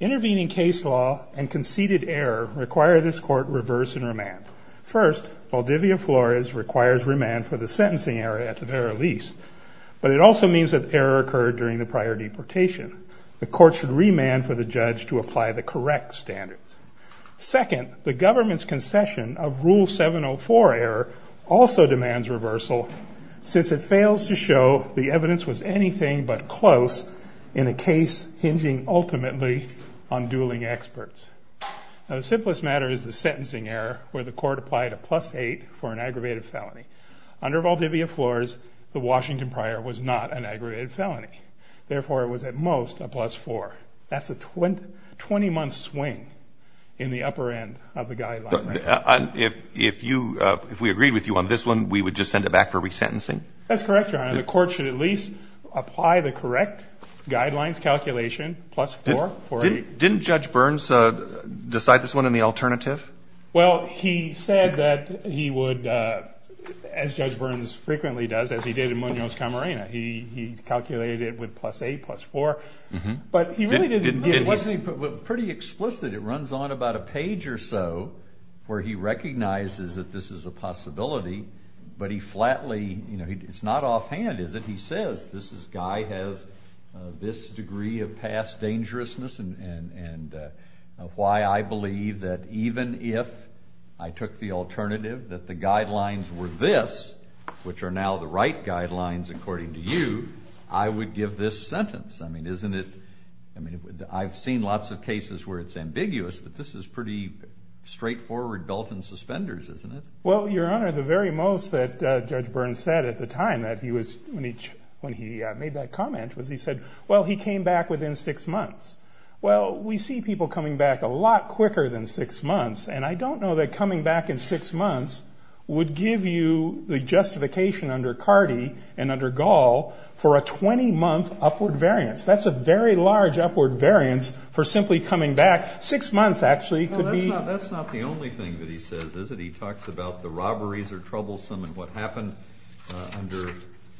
Intervening case law and conceded error require this court reverse and remand. First, Valdivia-Flores requires remand for the sentencing error at the very least, but it also means that the error occurred during the prior deportation. The court should remand for the judge to apply the correct standards. Second, the government's concession of Rule 704 error requires the court to reverse and remand for the sentencing error at the very least. The court also demands reversal since it fails to show the evidence was anything but close in a case hinging ultimately on dueling experts. Now, the simplest matter is the sentencing error where the court applied a plus 8 for an aggravated felony. Under Valdivia-Flores, the Washington prior was not an aggravated felony. Therefore, it was at most a plus 4. That's a 20-month swing in the upper end of the guideline. If we agreed with you on this one, we would just send it back for resentencing? That's correct, Your Honor. The court should at least apply the correct guidelines calculation plus 4. Didn't Judge Burns decide this one in the alternative? Well, he said that he would, as Judge Burns frequently does, as he did in Munoz-Camarena, he calculated it with plus 8, plus 4. It wasn't pretty explicit. It runs on about a page or so where he recognizes that this is a possibility, but he flatly, it's not offhand is it, he says this guy has this degree of past dangerousness and why I believe that even if I took the alternative that the guidelines were this, which are now the right guidelines according to you, I would give this sentence. I've seen lots of cases where it's ambiguous, but this is pretty straightforward Dalton suspenders, isn't it? Well, Your Honor, the very most that Judge Burns said at the time when he made that comment was he said, well, he came back within six months. Well, we see people coming back a lot quicker than six months, and I don't know that coming back in six months would give you the justification under Cardi and under Gall for a 20-month upward variance. That's a very large upward variance for simply coming back. Six months actually could be. That's not the only thing that he says, is it? He talks about the robberies are troublesome and what happened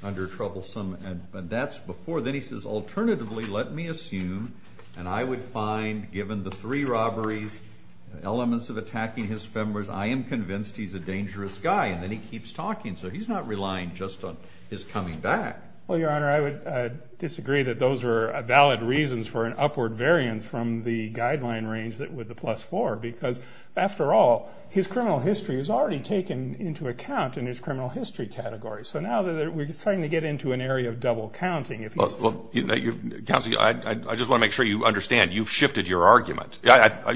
under troublesome, and that's before. Then he says, alternatively, let me assume, and I would find given the three robberies, elements of attacking his spammers, I am convinced he's a dangerous guy. And then he keeps talking, so he's not relying just on his coming back. Well, Your Honor, I would disagree that those were valid reasons for an upward variance from the guideline range with the plus four, because after all, his criminal history is already taken into account in his criminal history category. So now we're starting to get into an area of double counting. Counsel, I just want to make sure you understand you've shifted your argument.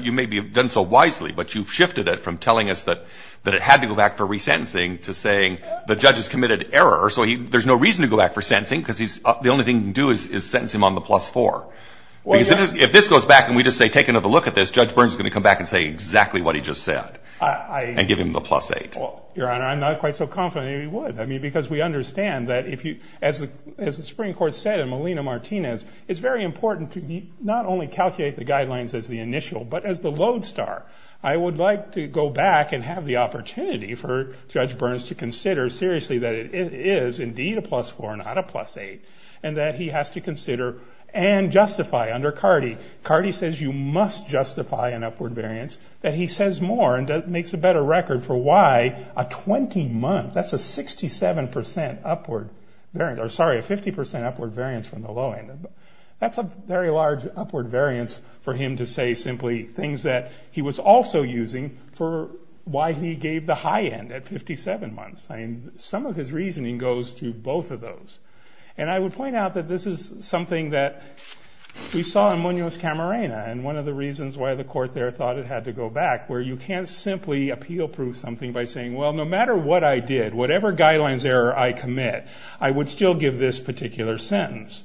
You may have done so wisely, but you've shifted it from telling us that it had to go back for resentencing to saying the judge has committed error, so there's no reason to go back for sentencing because the only thing he can do is sentence him on the plus four. If this goes back and we just say, take another look at this, Judge Burns is going to come back and say exactly what he just said and give him the plus eight. Your Honor, I'm not quite so confident he would, because we understand that, as the Supreme Court said in Molina-Martinez, it's very important to not only calculate the guidelines as the initial, but as the lodestar. I would like to go back and have the opportunity for Judge Burns to consider seriously that it is indeed a plus four and not a plus eight, and that he has to consider and justify under Cardi. Cardi says you must justify an upward variance, that he says more and makes a better record for why a 20-month, that's a 67% upward variance, or sorry, a 50% upward variance from the low end. That's a very large upward variance for him to say simply things that he was also using for why he gave the high end at 57 months. Some of his reasoning goes to both of those. And I would point out that this is something that we saw in Munoz-Camarena, and one of the reasons why the court there thought it had to go back, where you can't simply appeal proof something by saying, well, no matter what I did, whatever guidelines error I commit, I would still give this particular sentence.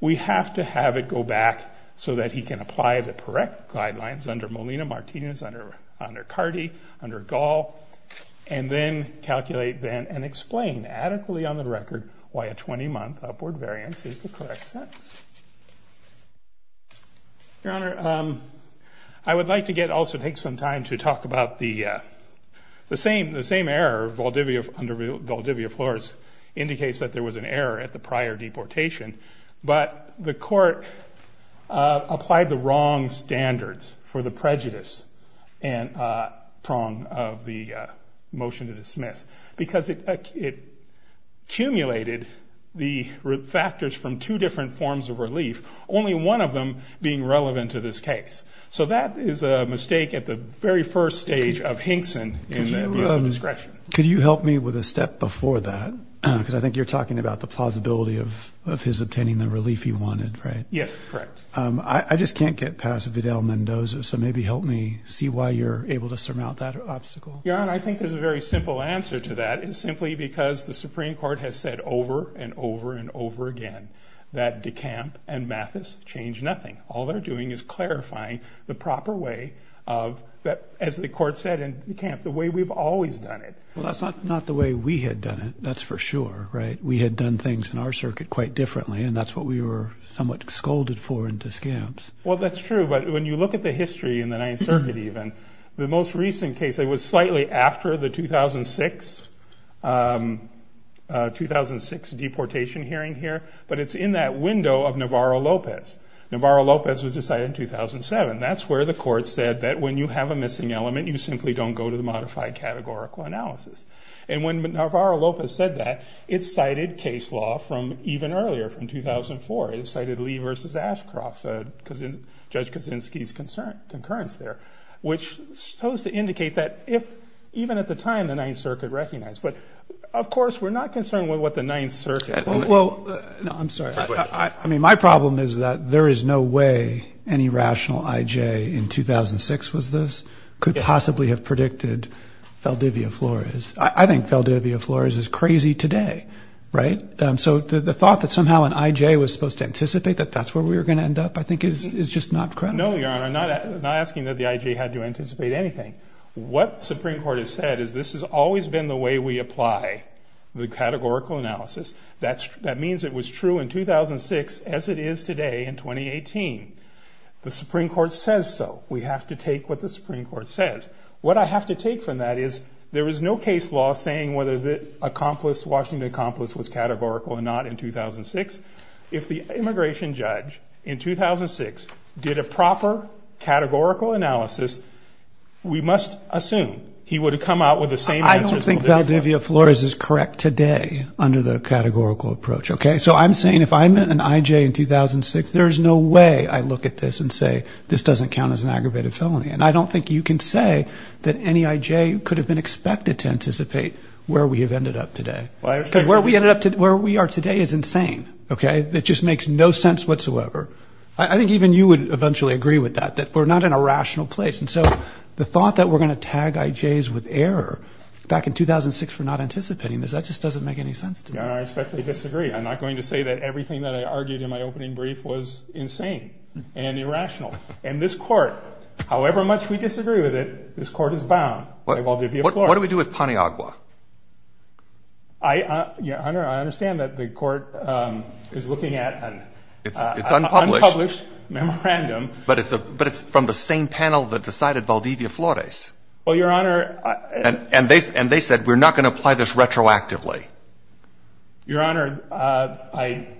We have to have it go back so that he can apply the correct guidelines under Molina-Martinez, under Cardi, under Gall, and then calculate then and explain adequately on the record why a 20-month upward variance is the correct sentence. Your Honor, I would like to also take some time to talk about the same error under Valdivia-Flores, indicates that there was an error at the prior deportation, but the court applied the wrong standards for the prejudice prong of the motion to dismiss, because it accumulated the factors from two different forms of relief, only one of them being relevant to this case. So that is a mistake at the very first stage of Hinkson in abuse of discretion. Could you help me with a step before that? Because I think you're talking about the plausibility of his obtaining the relief he wanted, right? Yes, correct. I just can't get past Vidal-Mendoza, so maybe help me see why you're able to surmount that obstacle. Your Honor, I think there's a very simple answer to that. It's simply because the Supreme Court has said over and over and over again that DeCamp and Mathis changed nothing. All they're doing is clarifying the proper way of, as the court said in DeCamp, the way we've always done it. Well, that's not the way we had done it, that's for sure, right? We had done things in our circuit quite differently, and that's what we were somewhat scolded for in DeCamps. Well, that's true, but when you look at the history in the Ninth Circuit even, the most recent case, it was slightly after the 2006 deportation hearing here, but it's in that window of Navarro-Lopez. Navarro-Lopez was decided in 2007. That's where the court said that when you have a missing element, you simply don't go to the modified categorical analysis. And when Navarro-Lopez said that, it cited case law from even earlier, from 2004. It cited Lee v. Ashcroft, Judge Kaczynski's concurrence there, which is supposed to indicate that if even at the time the Ninth Circuit recognized. But, of course, we're not concerned with what the Ninth Circuit. Well, no, I'm sorry. I mean, my problem is that there is no way any rational I.J. in 2006 was this, could possibly have predicted Valdivia Flores. I think Valdivia Flores is crazy today, right? So the thought that somehow an I.J. was supposed to anticipate that that's where we were going to end up I think is just not credible. No, Your Honor, I'm not asking that the I.J. had to anticipate anything. What the Supreme Court has said is this has always been the way we apply the categorical analysis. That means it was true in 2006 as it is today in 2018. The Supreme Court says so. We have to take what the Supreme Court says. What I have to take from that is there is no case law saying whether the accomplice, Washington accomplice, was categorical or not in 2006. If the immigration judge in 2006 did a proper categorical analysis, we must assume he would have come out with the same answer as Valdivia Flores. I don't think Valdivia Flores is correct today under the categorical approach, okay? So I'm saying if I met an I.J. in 2006, there is no way I look at this and say this doesn't count as an aggravated felony. And I don't think you can say that any I.J. could have been expected to anticipate where we have ended up today. Because where we are today is insane, okay? It just makes no sense whatsoever. I think even you would eventually agree with that, that we're not in a rational place. And so the thought that we're going to tag I.J.s with error back in 2006 for not anticipating this, that just doesn't make any sense to me. Your Honor, I respectfully disagree. I'm not going to say that everything that I argued in my opening brief was insane and irrational. And this Court, however much we disagree with it, this Court is bound by Valdivia Flores. What do we do with Paniagua? Your Honor, I understand that the Court is looking at an unpublished memorandum. But it's from the same panel that decided Valdivia Flores. Well, Your Honor. And they said we're not going to apply this retroactively. Your Honor, I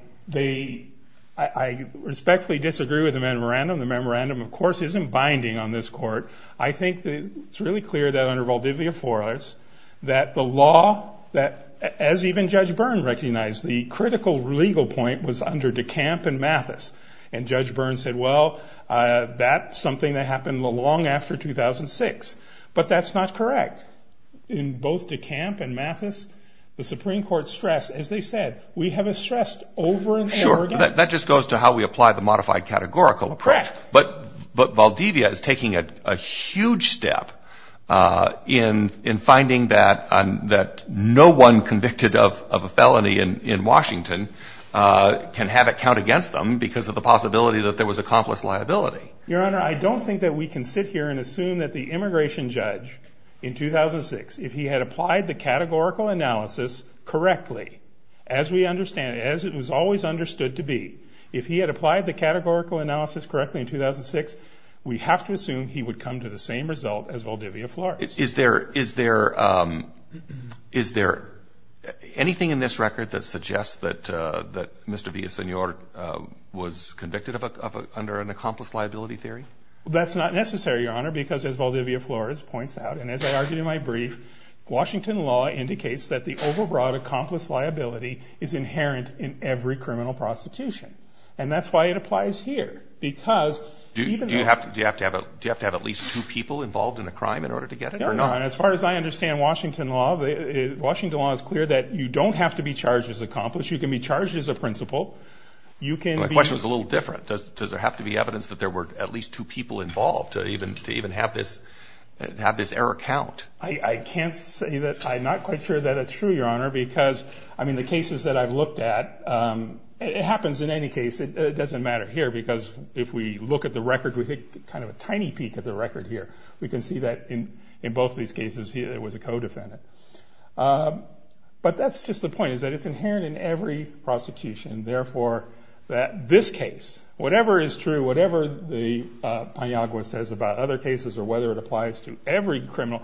respectfully disagree with the memorandum. The memorandum, of course, isn't binding on this Court. I think it's really clear that under Valdivia Flores that the law, as even Judge Byrne recognized, the critical legal point was under DeCamp and Mathis. And Judge Byrne said, well, that's something that happened long after 2006. But that's not correct. In both DeCamp and Mathis, the Supreme Court stressed, as they said, we have a stressed over and over again. Sure. That just goes to how we apply the modified categorical approach. Correct. But Valdivia is taking a huge step in finding that no one convicted of a felony in Washington can have it count against them because of the possibility that there was accomplice liability. Your Honor, I don't think that we can sit here and assume that the immigration judge in 2006, if he had applied the categorical analysis correctly, as we understand, as it was always understood to be, if he had applied the categorical analysis correctly in 2006, we have to assume he would come to the same result as Valdivia Flores. Is there anything in this record that suggests that Mr. Villasenor was convicted under an accomplice liability theory? That's not necessary, Your Honor, because as Valdivia Flores points out, and as I argued in my brief, Washington law indicates that the overbroad accomplice liability is inherent in every criminal prosecution. And that's why it applies here. Do you have to have at least two people involved in a crime in order to get it or not? No, Your Honor. As far as I understand Washington law, Washington law is clear that you don't have to be charged as accomplice. You can be charged as a principal. My question is a little different. Does there have to be evidence that there were at least two people involved to even have this error count? I can't say that. I'm not quite sure that it's true, Your Honor, because, I mean, the cases that I've looked at, it happens in any case. It doesn't matter here because if we look at the record, we take kind of a tiny peek at the record here, we can see that in both of these cases it was a co-defendant. But that's just the point, is that it's inherent in every prosecution. Therefore, this case, whatever is true, whatever the pinagua says about other cases or whether it applies to every criminal,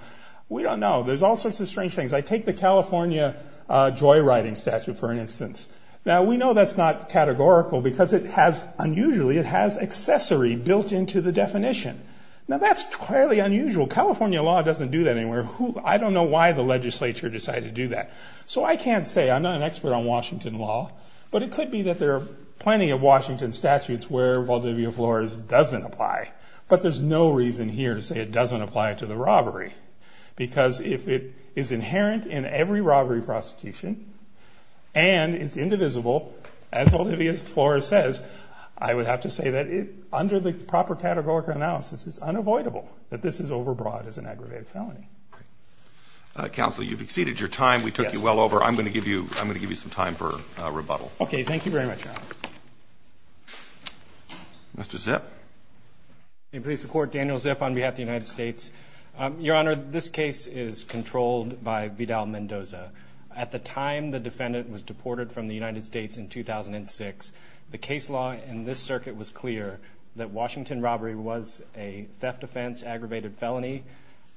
we don't know. There's all sorts of strange things. I take the California joyriding statute, for instance. Now, we know that's not categorical because it has, unusually, it has accessory built into the definition. Now, that's clearly unusual. California law doesn't do that anywhere. I don't know why the legislature decided to do that. So I can't say. I'm not an expert on Washington law. But it could be that there are plenty of Washington statutes where Valdivia Flores doesn't apply. Because if it is inherent in every robbery prosecution and it's indivisible, as Valdivia Flores says, I would have to say that under the proper categorical analysis, it's unavoidable that this is overbroad as an aggravated felony. Counsel, you've exceeded your time. We took you well over. I'm going to give you some time for rebuttal. Okay. Thank you very much, Your Honor. Mr. Zip. May it please the Court, Daniel Zip on behalf of the United States. Your Honor, this case is controlled by Vidal-Mendoza. At the time the defendant was deported from the United States in 2006, the case law in this circuit was clear that Washington robbery was a theft offense, aggravated felony.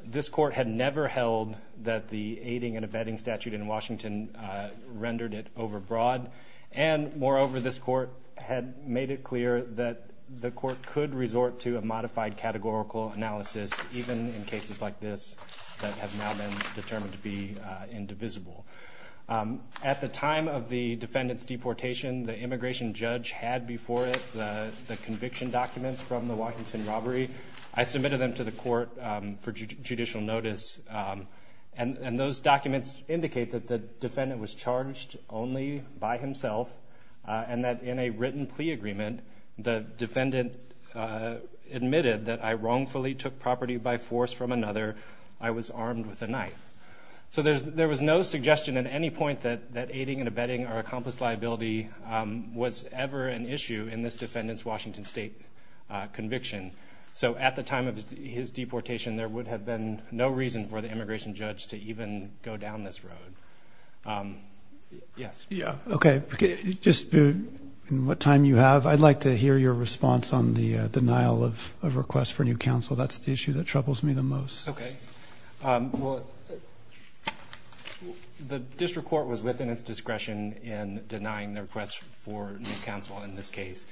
This Court had never held that the aiding and abetting statute in Washington rendered it overbroad. And moreover, this Court had made it clear that the Court could resort to a modified categorical analysis, even in cases like this that have now been determined to be indivisible. At the time of the defendant's deportation, the immigration judge had before it the conviction documents from the Washington robbery. I submitted them to the Court for judicial notice. And those documents indicate that the defendant was charged only by himself and that in a written plea agreement, the defendant admitted that I wrongfully took property by force from another. I was armed with a knife. So there was no suggestion at any point that aiding and abetting or accomplice liability was ever an issue in this defendant's Washington state conviction. So at the time of his deportation, there would have been no reason for the immigration judge to even go down this road. Yes. Yeah. Okay. Just in what time you have, I'd like to hear your response on the denial of a request for new counsel. That's the issue that troubles me the most. Okay. Well, the district court was within its discretion in denying the request for new counsel in this case.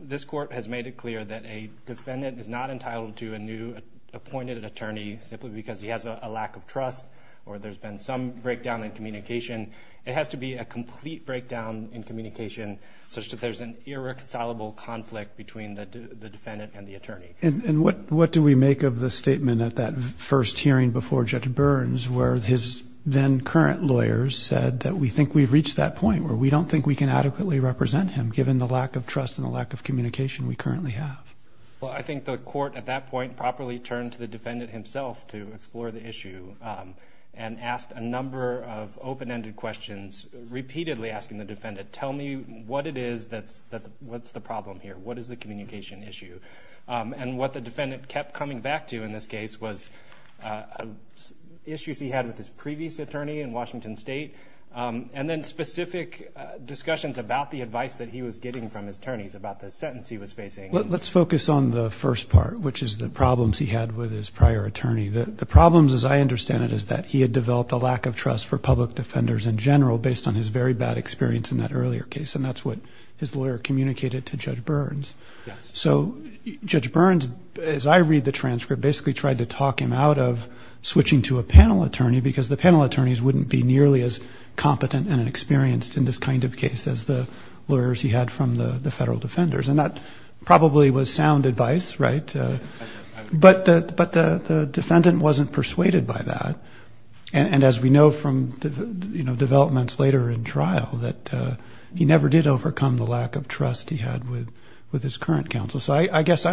This court has made it clear that a defendant is not entitled to a new appointed attorney simply because he has a lack of trust or there's been some breakdown in communication. It has to be a complete breakdown in communication such that there's an irreconcilable conflict between the defendant and the attorney. And what do we make of the statement at that first hearing before Judge Burns where his then current lawyers said that we think we've reached that point where we don't think we can adequately represent him given the lack of trust and the lack of communication we currently have? Well, I think the court at that point properly turned to the defendant himself to explore the issue and asked a number of open-ended questions, repeatedly asking the defendant, tell me what it is that's the problem here? What is the communication issue? And what the defendant kept coming back to in this case was issues he had with his previous attorney in Washington state and then specific discussions about the advice that he was getting from his attorneys about the sentence he was facing. Let's focus on the first part, which is the problems he had with his prior attorney. The problems, as I understand it, is that he had developed a lack of trust for public defenders in general based on his very bad experience in that earlier case, and that's what his lawyer communicated to Judge Burns. Yes. So Judge Burns, as I read the transcript, basically tried to talk him out of switching to a panel attorney because the panel attorneys wouldn't be nearly as competent and experienced in this kind of case as the lawyers he had from the federal defenders, and that probably was sound advice, right? But the defendant wasn't persuaded by that, and as we know from developments later in trial, that he never did overcome the lack of trust he had with his current counsel. So I guess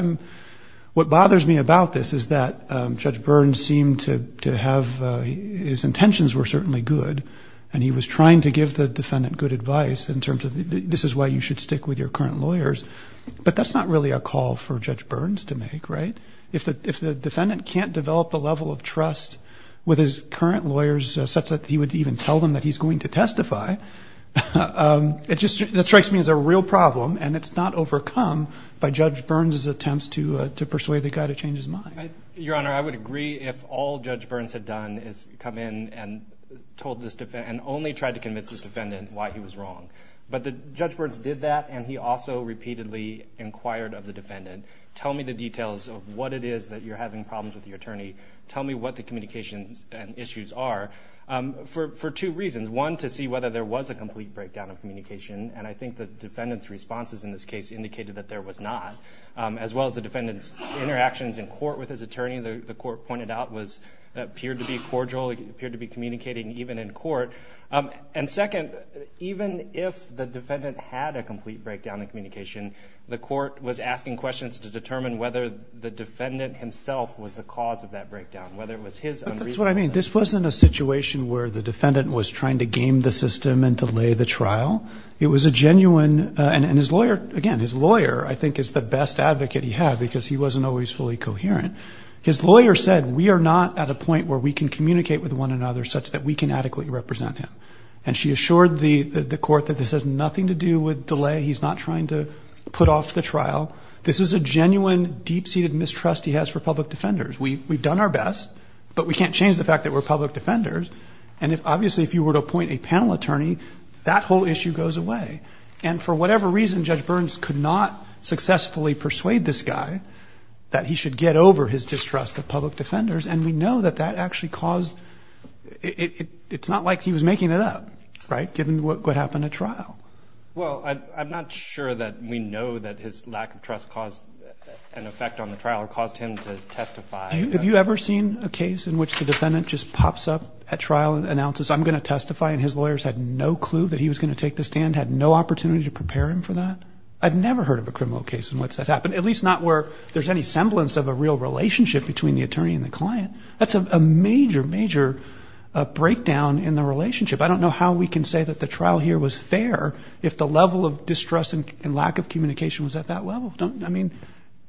what bothers me about this is that Judge Burns seemed to have his intentions were certainly good, and he was trying to give the defendant good advice in terms of this is why you should stick with your current lawyers, but that's not really a call for Judge Burns to make, right? If the defendant can't develop a level of trust with his current lawyers such that he would even tell them that he's going to testify, that strikes me as a real problem, and it's not overcome by Judge Burns' attempts to persuade the guy to change his mind. Your Honor, I would agree if all Judge Burns had done is come in and only tried to convince his defendant why he was wrong, but Judge Burns did that, and he also repeatedly inquired of the defendant, tell me the details of what it is that you're having problems with your attorney, tell me what the communications and issues are, for two reasons. One, to see whether there was a complete breakdown of communication, and I think the defendant's responses in this case indicated that there was not, as well as the defendant's interactions in court with his attorney, the court pointed out, appeared to be cordial, appeared to be communicating even in court, and second, even if the defendant had a complete breakdown in communication, the court was asking questions to determine whether the defendant himself was the cause of that breakdown, whether it was his unreasonable intent. But that's what I mean. This wasn't a situation where the defendant was trying to game the system and delay the trial. It was a genuine, and his lawyer, again, his lawyer I think is the best advocate he had, because he wasn't always fully coherent. His lawyer said we are not at a point where we can communicate with one another such that we can adequately represent him, and she assured the court that this has nothing to do with delay. He's not trying to put off the trial. This is a genuine deep-seated mistrust he has for public defenders. We've done our best, but we can't change the fact that we're public defenders, and obviously if you were to appoint a panel attorney, that whole issue goes away. And for whatever reason, Judge Burns could not successfully persuade this guy that he should get over his distrust of public defenders, and we know that that actually caused – it's not like he was making it up, right, given what happened at trial. Well, I'm not sure that we know that his lack of trust caused an effect on the trial or caused him to testify. Have you ever seen a case in which the defendant just pops up at trial and announces, I'm going to testify, and his lawyers had no clue that he was going to take the stand, had no opportunity to prepare him for that? I've never heard of a criminal case in which that happened, at least not where there's any semblance of a real relationship between the attorney and the client. That's a major, major breakdown in the relationship. I don't know how we can say that the trial here was fair if the level of distrust and lack of communication was at that level. I mean,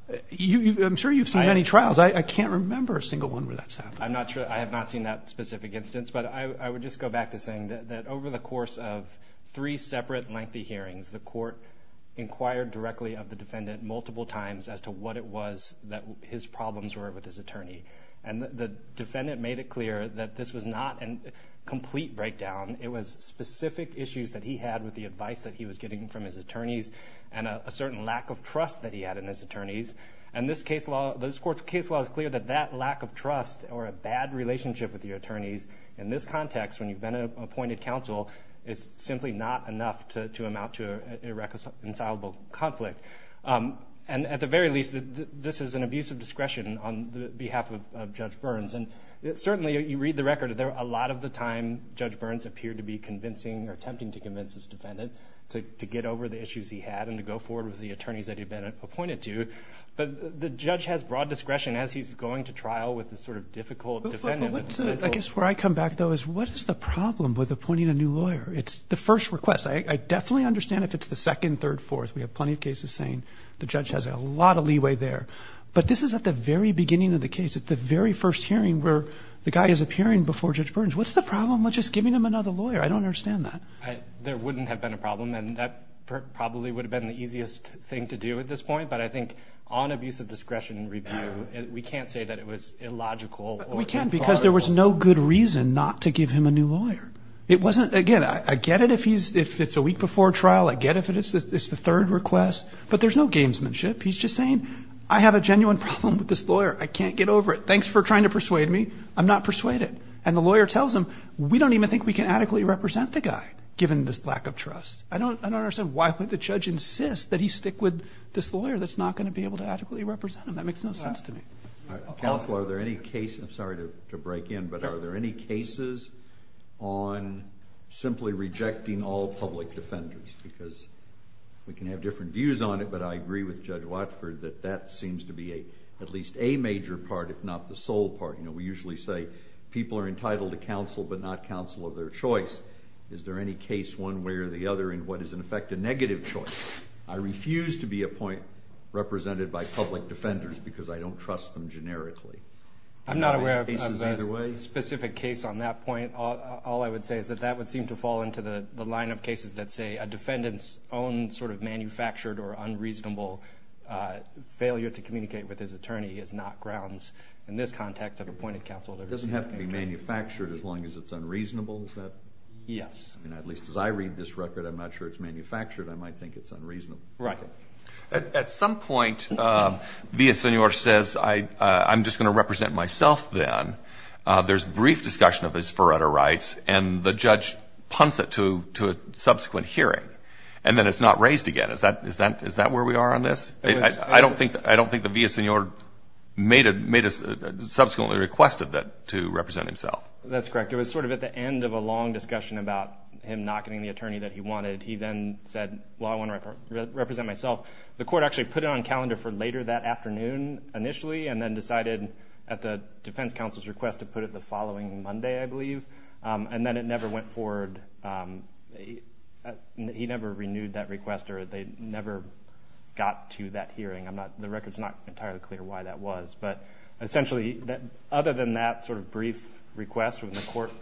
I'm sure you've seen many trials. I can't remember a single one where that's happened. I'm not sure. I have not seen that specific instance. But I would just go back to saying that over the course of three separate lengthy hearings, the court inquired directly of the defendant multiple times as to what it was that his problems were with his attorney. And the defendant made it clear that this was not a complete breakdown. It was specific issues that he had with the advice that he was getting from his attorneys and a certain lack of trust that he had in his attorneys. And this court's case law is clear that that lack of trust or a bad relationship with your attorneys in this context, when you've been an appointed counsel, is simply not enough to amount to an irreconcilable conflict. And at the very least, this is an abuse of discretion on behalf of Judge Burns. And certainly, you read the record, a lot of the time Judge Burns appeared to be convincing or attempting to convince his defendant to get over the issues he had and to go forward with the attorneys that he'd been appointed to. But the judge has broad discretion as he's going to trial with this sort of difficult defendant. I guess where I come back, though, is what is the problem with appointing a new lawyer? It's the first request. I definitely understand if it's the second, third, fourth. We have plenty of cases saying the judge has a lot of leeway there. But this is at the very beginning of the case, at the very first hearing, where the guy is appearing before Judge Burns. What's the problem with just giving him another lawyer? I don't understand that. There wouldn't have been a problem, and that probably would have been the easiest thing to do at this point. But I think on abuse of discretion review, we can't say that it was illogical. We can't because there was no good reason not to give him a new lawyer. Again, I get it if it's a week before trial. I get it if it's the third request. But there's no gamesmanship. He's just saying, I have a genuine problem with this lawyer. I can't get over it. Thanks for trying to persuade me. I'm not persuaded. And the lawyer tells him, we don't even think we can adequately represent the guy given this lack of trust. I don't understand why would the judge insist that he stick with this lawyer that's not going to be able to adequately represent him. That makes no sense to me. Counsel, are there any cases, I'm sorry to break in, but are there any cases on simply rejecting all public defenders? Because we can have different views on it, but I agree with Judge Watford that that seems to be at least a major part, if not the sole part. We usually say people are entitled to counsel, but not counsel of their choice. Is there any case one way or the other in what is in effect a negative choice? I refuse to be a point represented by public defenders because I don't trust them generically. I'm not aware of a specific case on that point. All I would say is that that would seem to fall into the line of cases that say a defendant's own sort of manufactured or unreasonable failure to communicate with his attorney is not grounds in this context of appointed counsel. It doesn't have to be manufactured as long as it's unreasonable. Yes. Right. At some point, Villasenor says, I'm just going to represent myself then. There's brief discussion of his forerunner rights, and the judge punts it to a subsequent hearing, and then it's not raised again. Is that where we are on this? I don't think that Villasenor subsequently requested to represent himself. That's correct. It was sort of at the end of a long discussion about him not getting the attorney that he wanted. He then said, well, I want to represent myself. The court actually put it on calendar for later that afternoon initially and then decided at the defense counsel's request to put it the following Monday, I believe, and then it never went forward. He never renewed that request, or they never got to that hearing. The record's not entirely clear why that was. But essentially, other than that sort of brief request when the court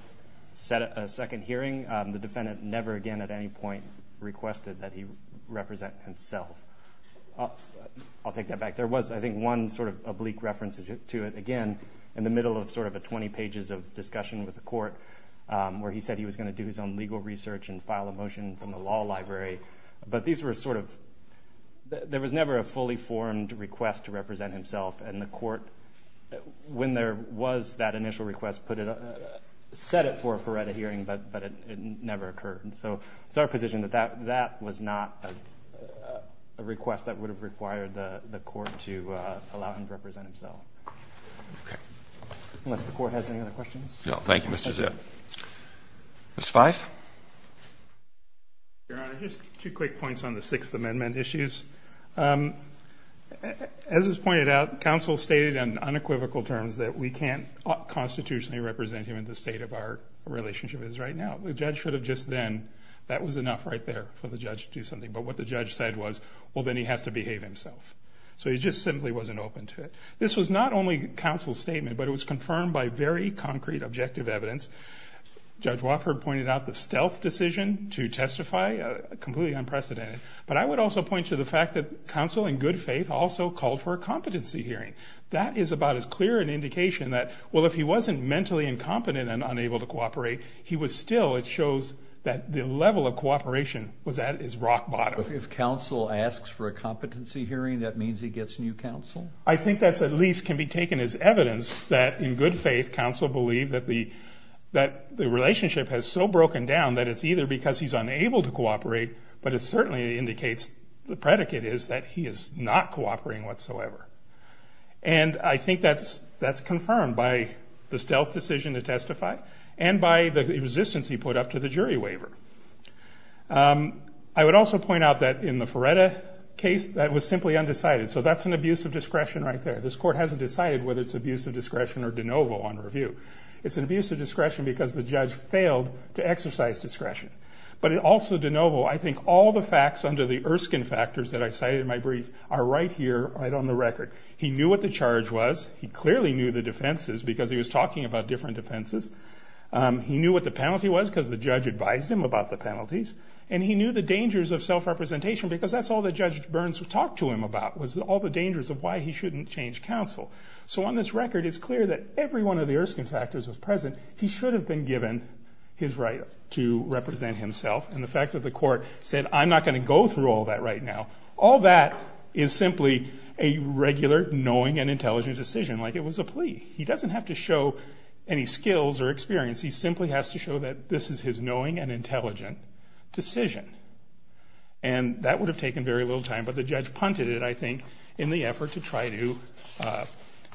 set a second hearing, the defendant never again at any point requested that he represent himself. I'll take that back. There was, I think, one sort of oblique reference to it, again, in the middle of sort of a 20 pages of discussion with the court where he said he was going to do his own legal research and file a motion from the law library. But these were sort of ñ there was never a fully formed request to represent himself, and the court, when there was that initial request, set it for a forerunner hearing, but it never occurred. So it's our position that that was not a request that would have required the court to allow him to represent himself. Okay. Unless the court has any other questions. No, thank you, Mr. Zip. Mr. Fife. Your Honor, just two quick points on the Sixth Amendment issues. As was pointed out, counsel stated in unequivocal terms that we can't constitutionally represent him in the state of our relationship is right now. The judge should have just then ñ that was enough right there for the judge to do something. But what the judge said was, well, then he has to behave himself. So he just simply wasn't open to it. This was not only counsel's statement, but it was confirmed by very concrete, objective evidence. Judge Wofford pointed out the stealth decision to testify, completely unprecedented. But I would also point to the fact that counsel, in good faith, also called for a competency hearing. That is about as clear an indication that, well, if he wasn't mentally incompetent and unable to cooperate, he was still ñ it shows that the level of cooperation was at his rock bottom. But if counsel asks for a competency hearing, that means he gets new counsel? I think that at least can be taken as evidence that, in good faith, counsel believed that the relationship has so broken down that it's either because he's unable to cooperate, but it certainly indicates ñ the predicate is that he is not cooperating whatsoever. And I think that's confirmed by the stealth decision to testify and by the resistance he put up to the jury waiver. I would also point out that in the Feretta case, that was simply undecided. So that's an abuse of discretion right there. This court hasn't decided whether it's abuse of discretion or de novo on review. It's an abuse of discretion because the judge failed to exercise discretion. But also de novo, I think all the facts under the Erskine factors that I cited in my brief are right here, right on the record. He knew what the charge was. He clearly knew the defenses because he was talking about different defenses. He knew what the penalty was because the judge advised him about the penalties. And he knew the dangers of self-representation because that's all that Judge Burns talked to him about, was all the dangers of why he shouldn't change counsel. So on this record, it's clear that every one of the Erskine factors was present. He should have been given his right to represent himself. And the fact that the court said, I'm not going to go through all that right now, all that is simply a regular knowing and intelligent decision, like it was a plea. He doesn't have to show any skills or experience. He simply has to show that this is his knowing and intelligent decision. And that would have taken very little time, but the judge punted it, I think, in the effort to try to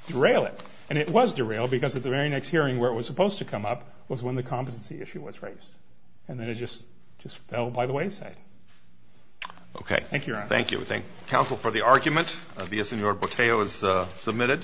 derail it. And it was derailed because at the very next hearing where it was supposed to come up was when the competency issue was raised. And then it just fell by the wayside. Okay. Thank you, Your Honor. Thank you. We thank counsel for the argument. V.S. Sen. Boteo is submitted.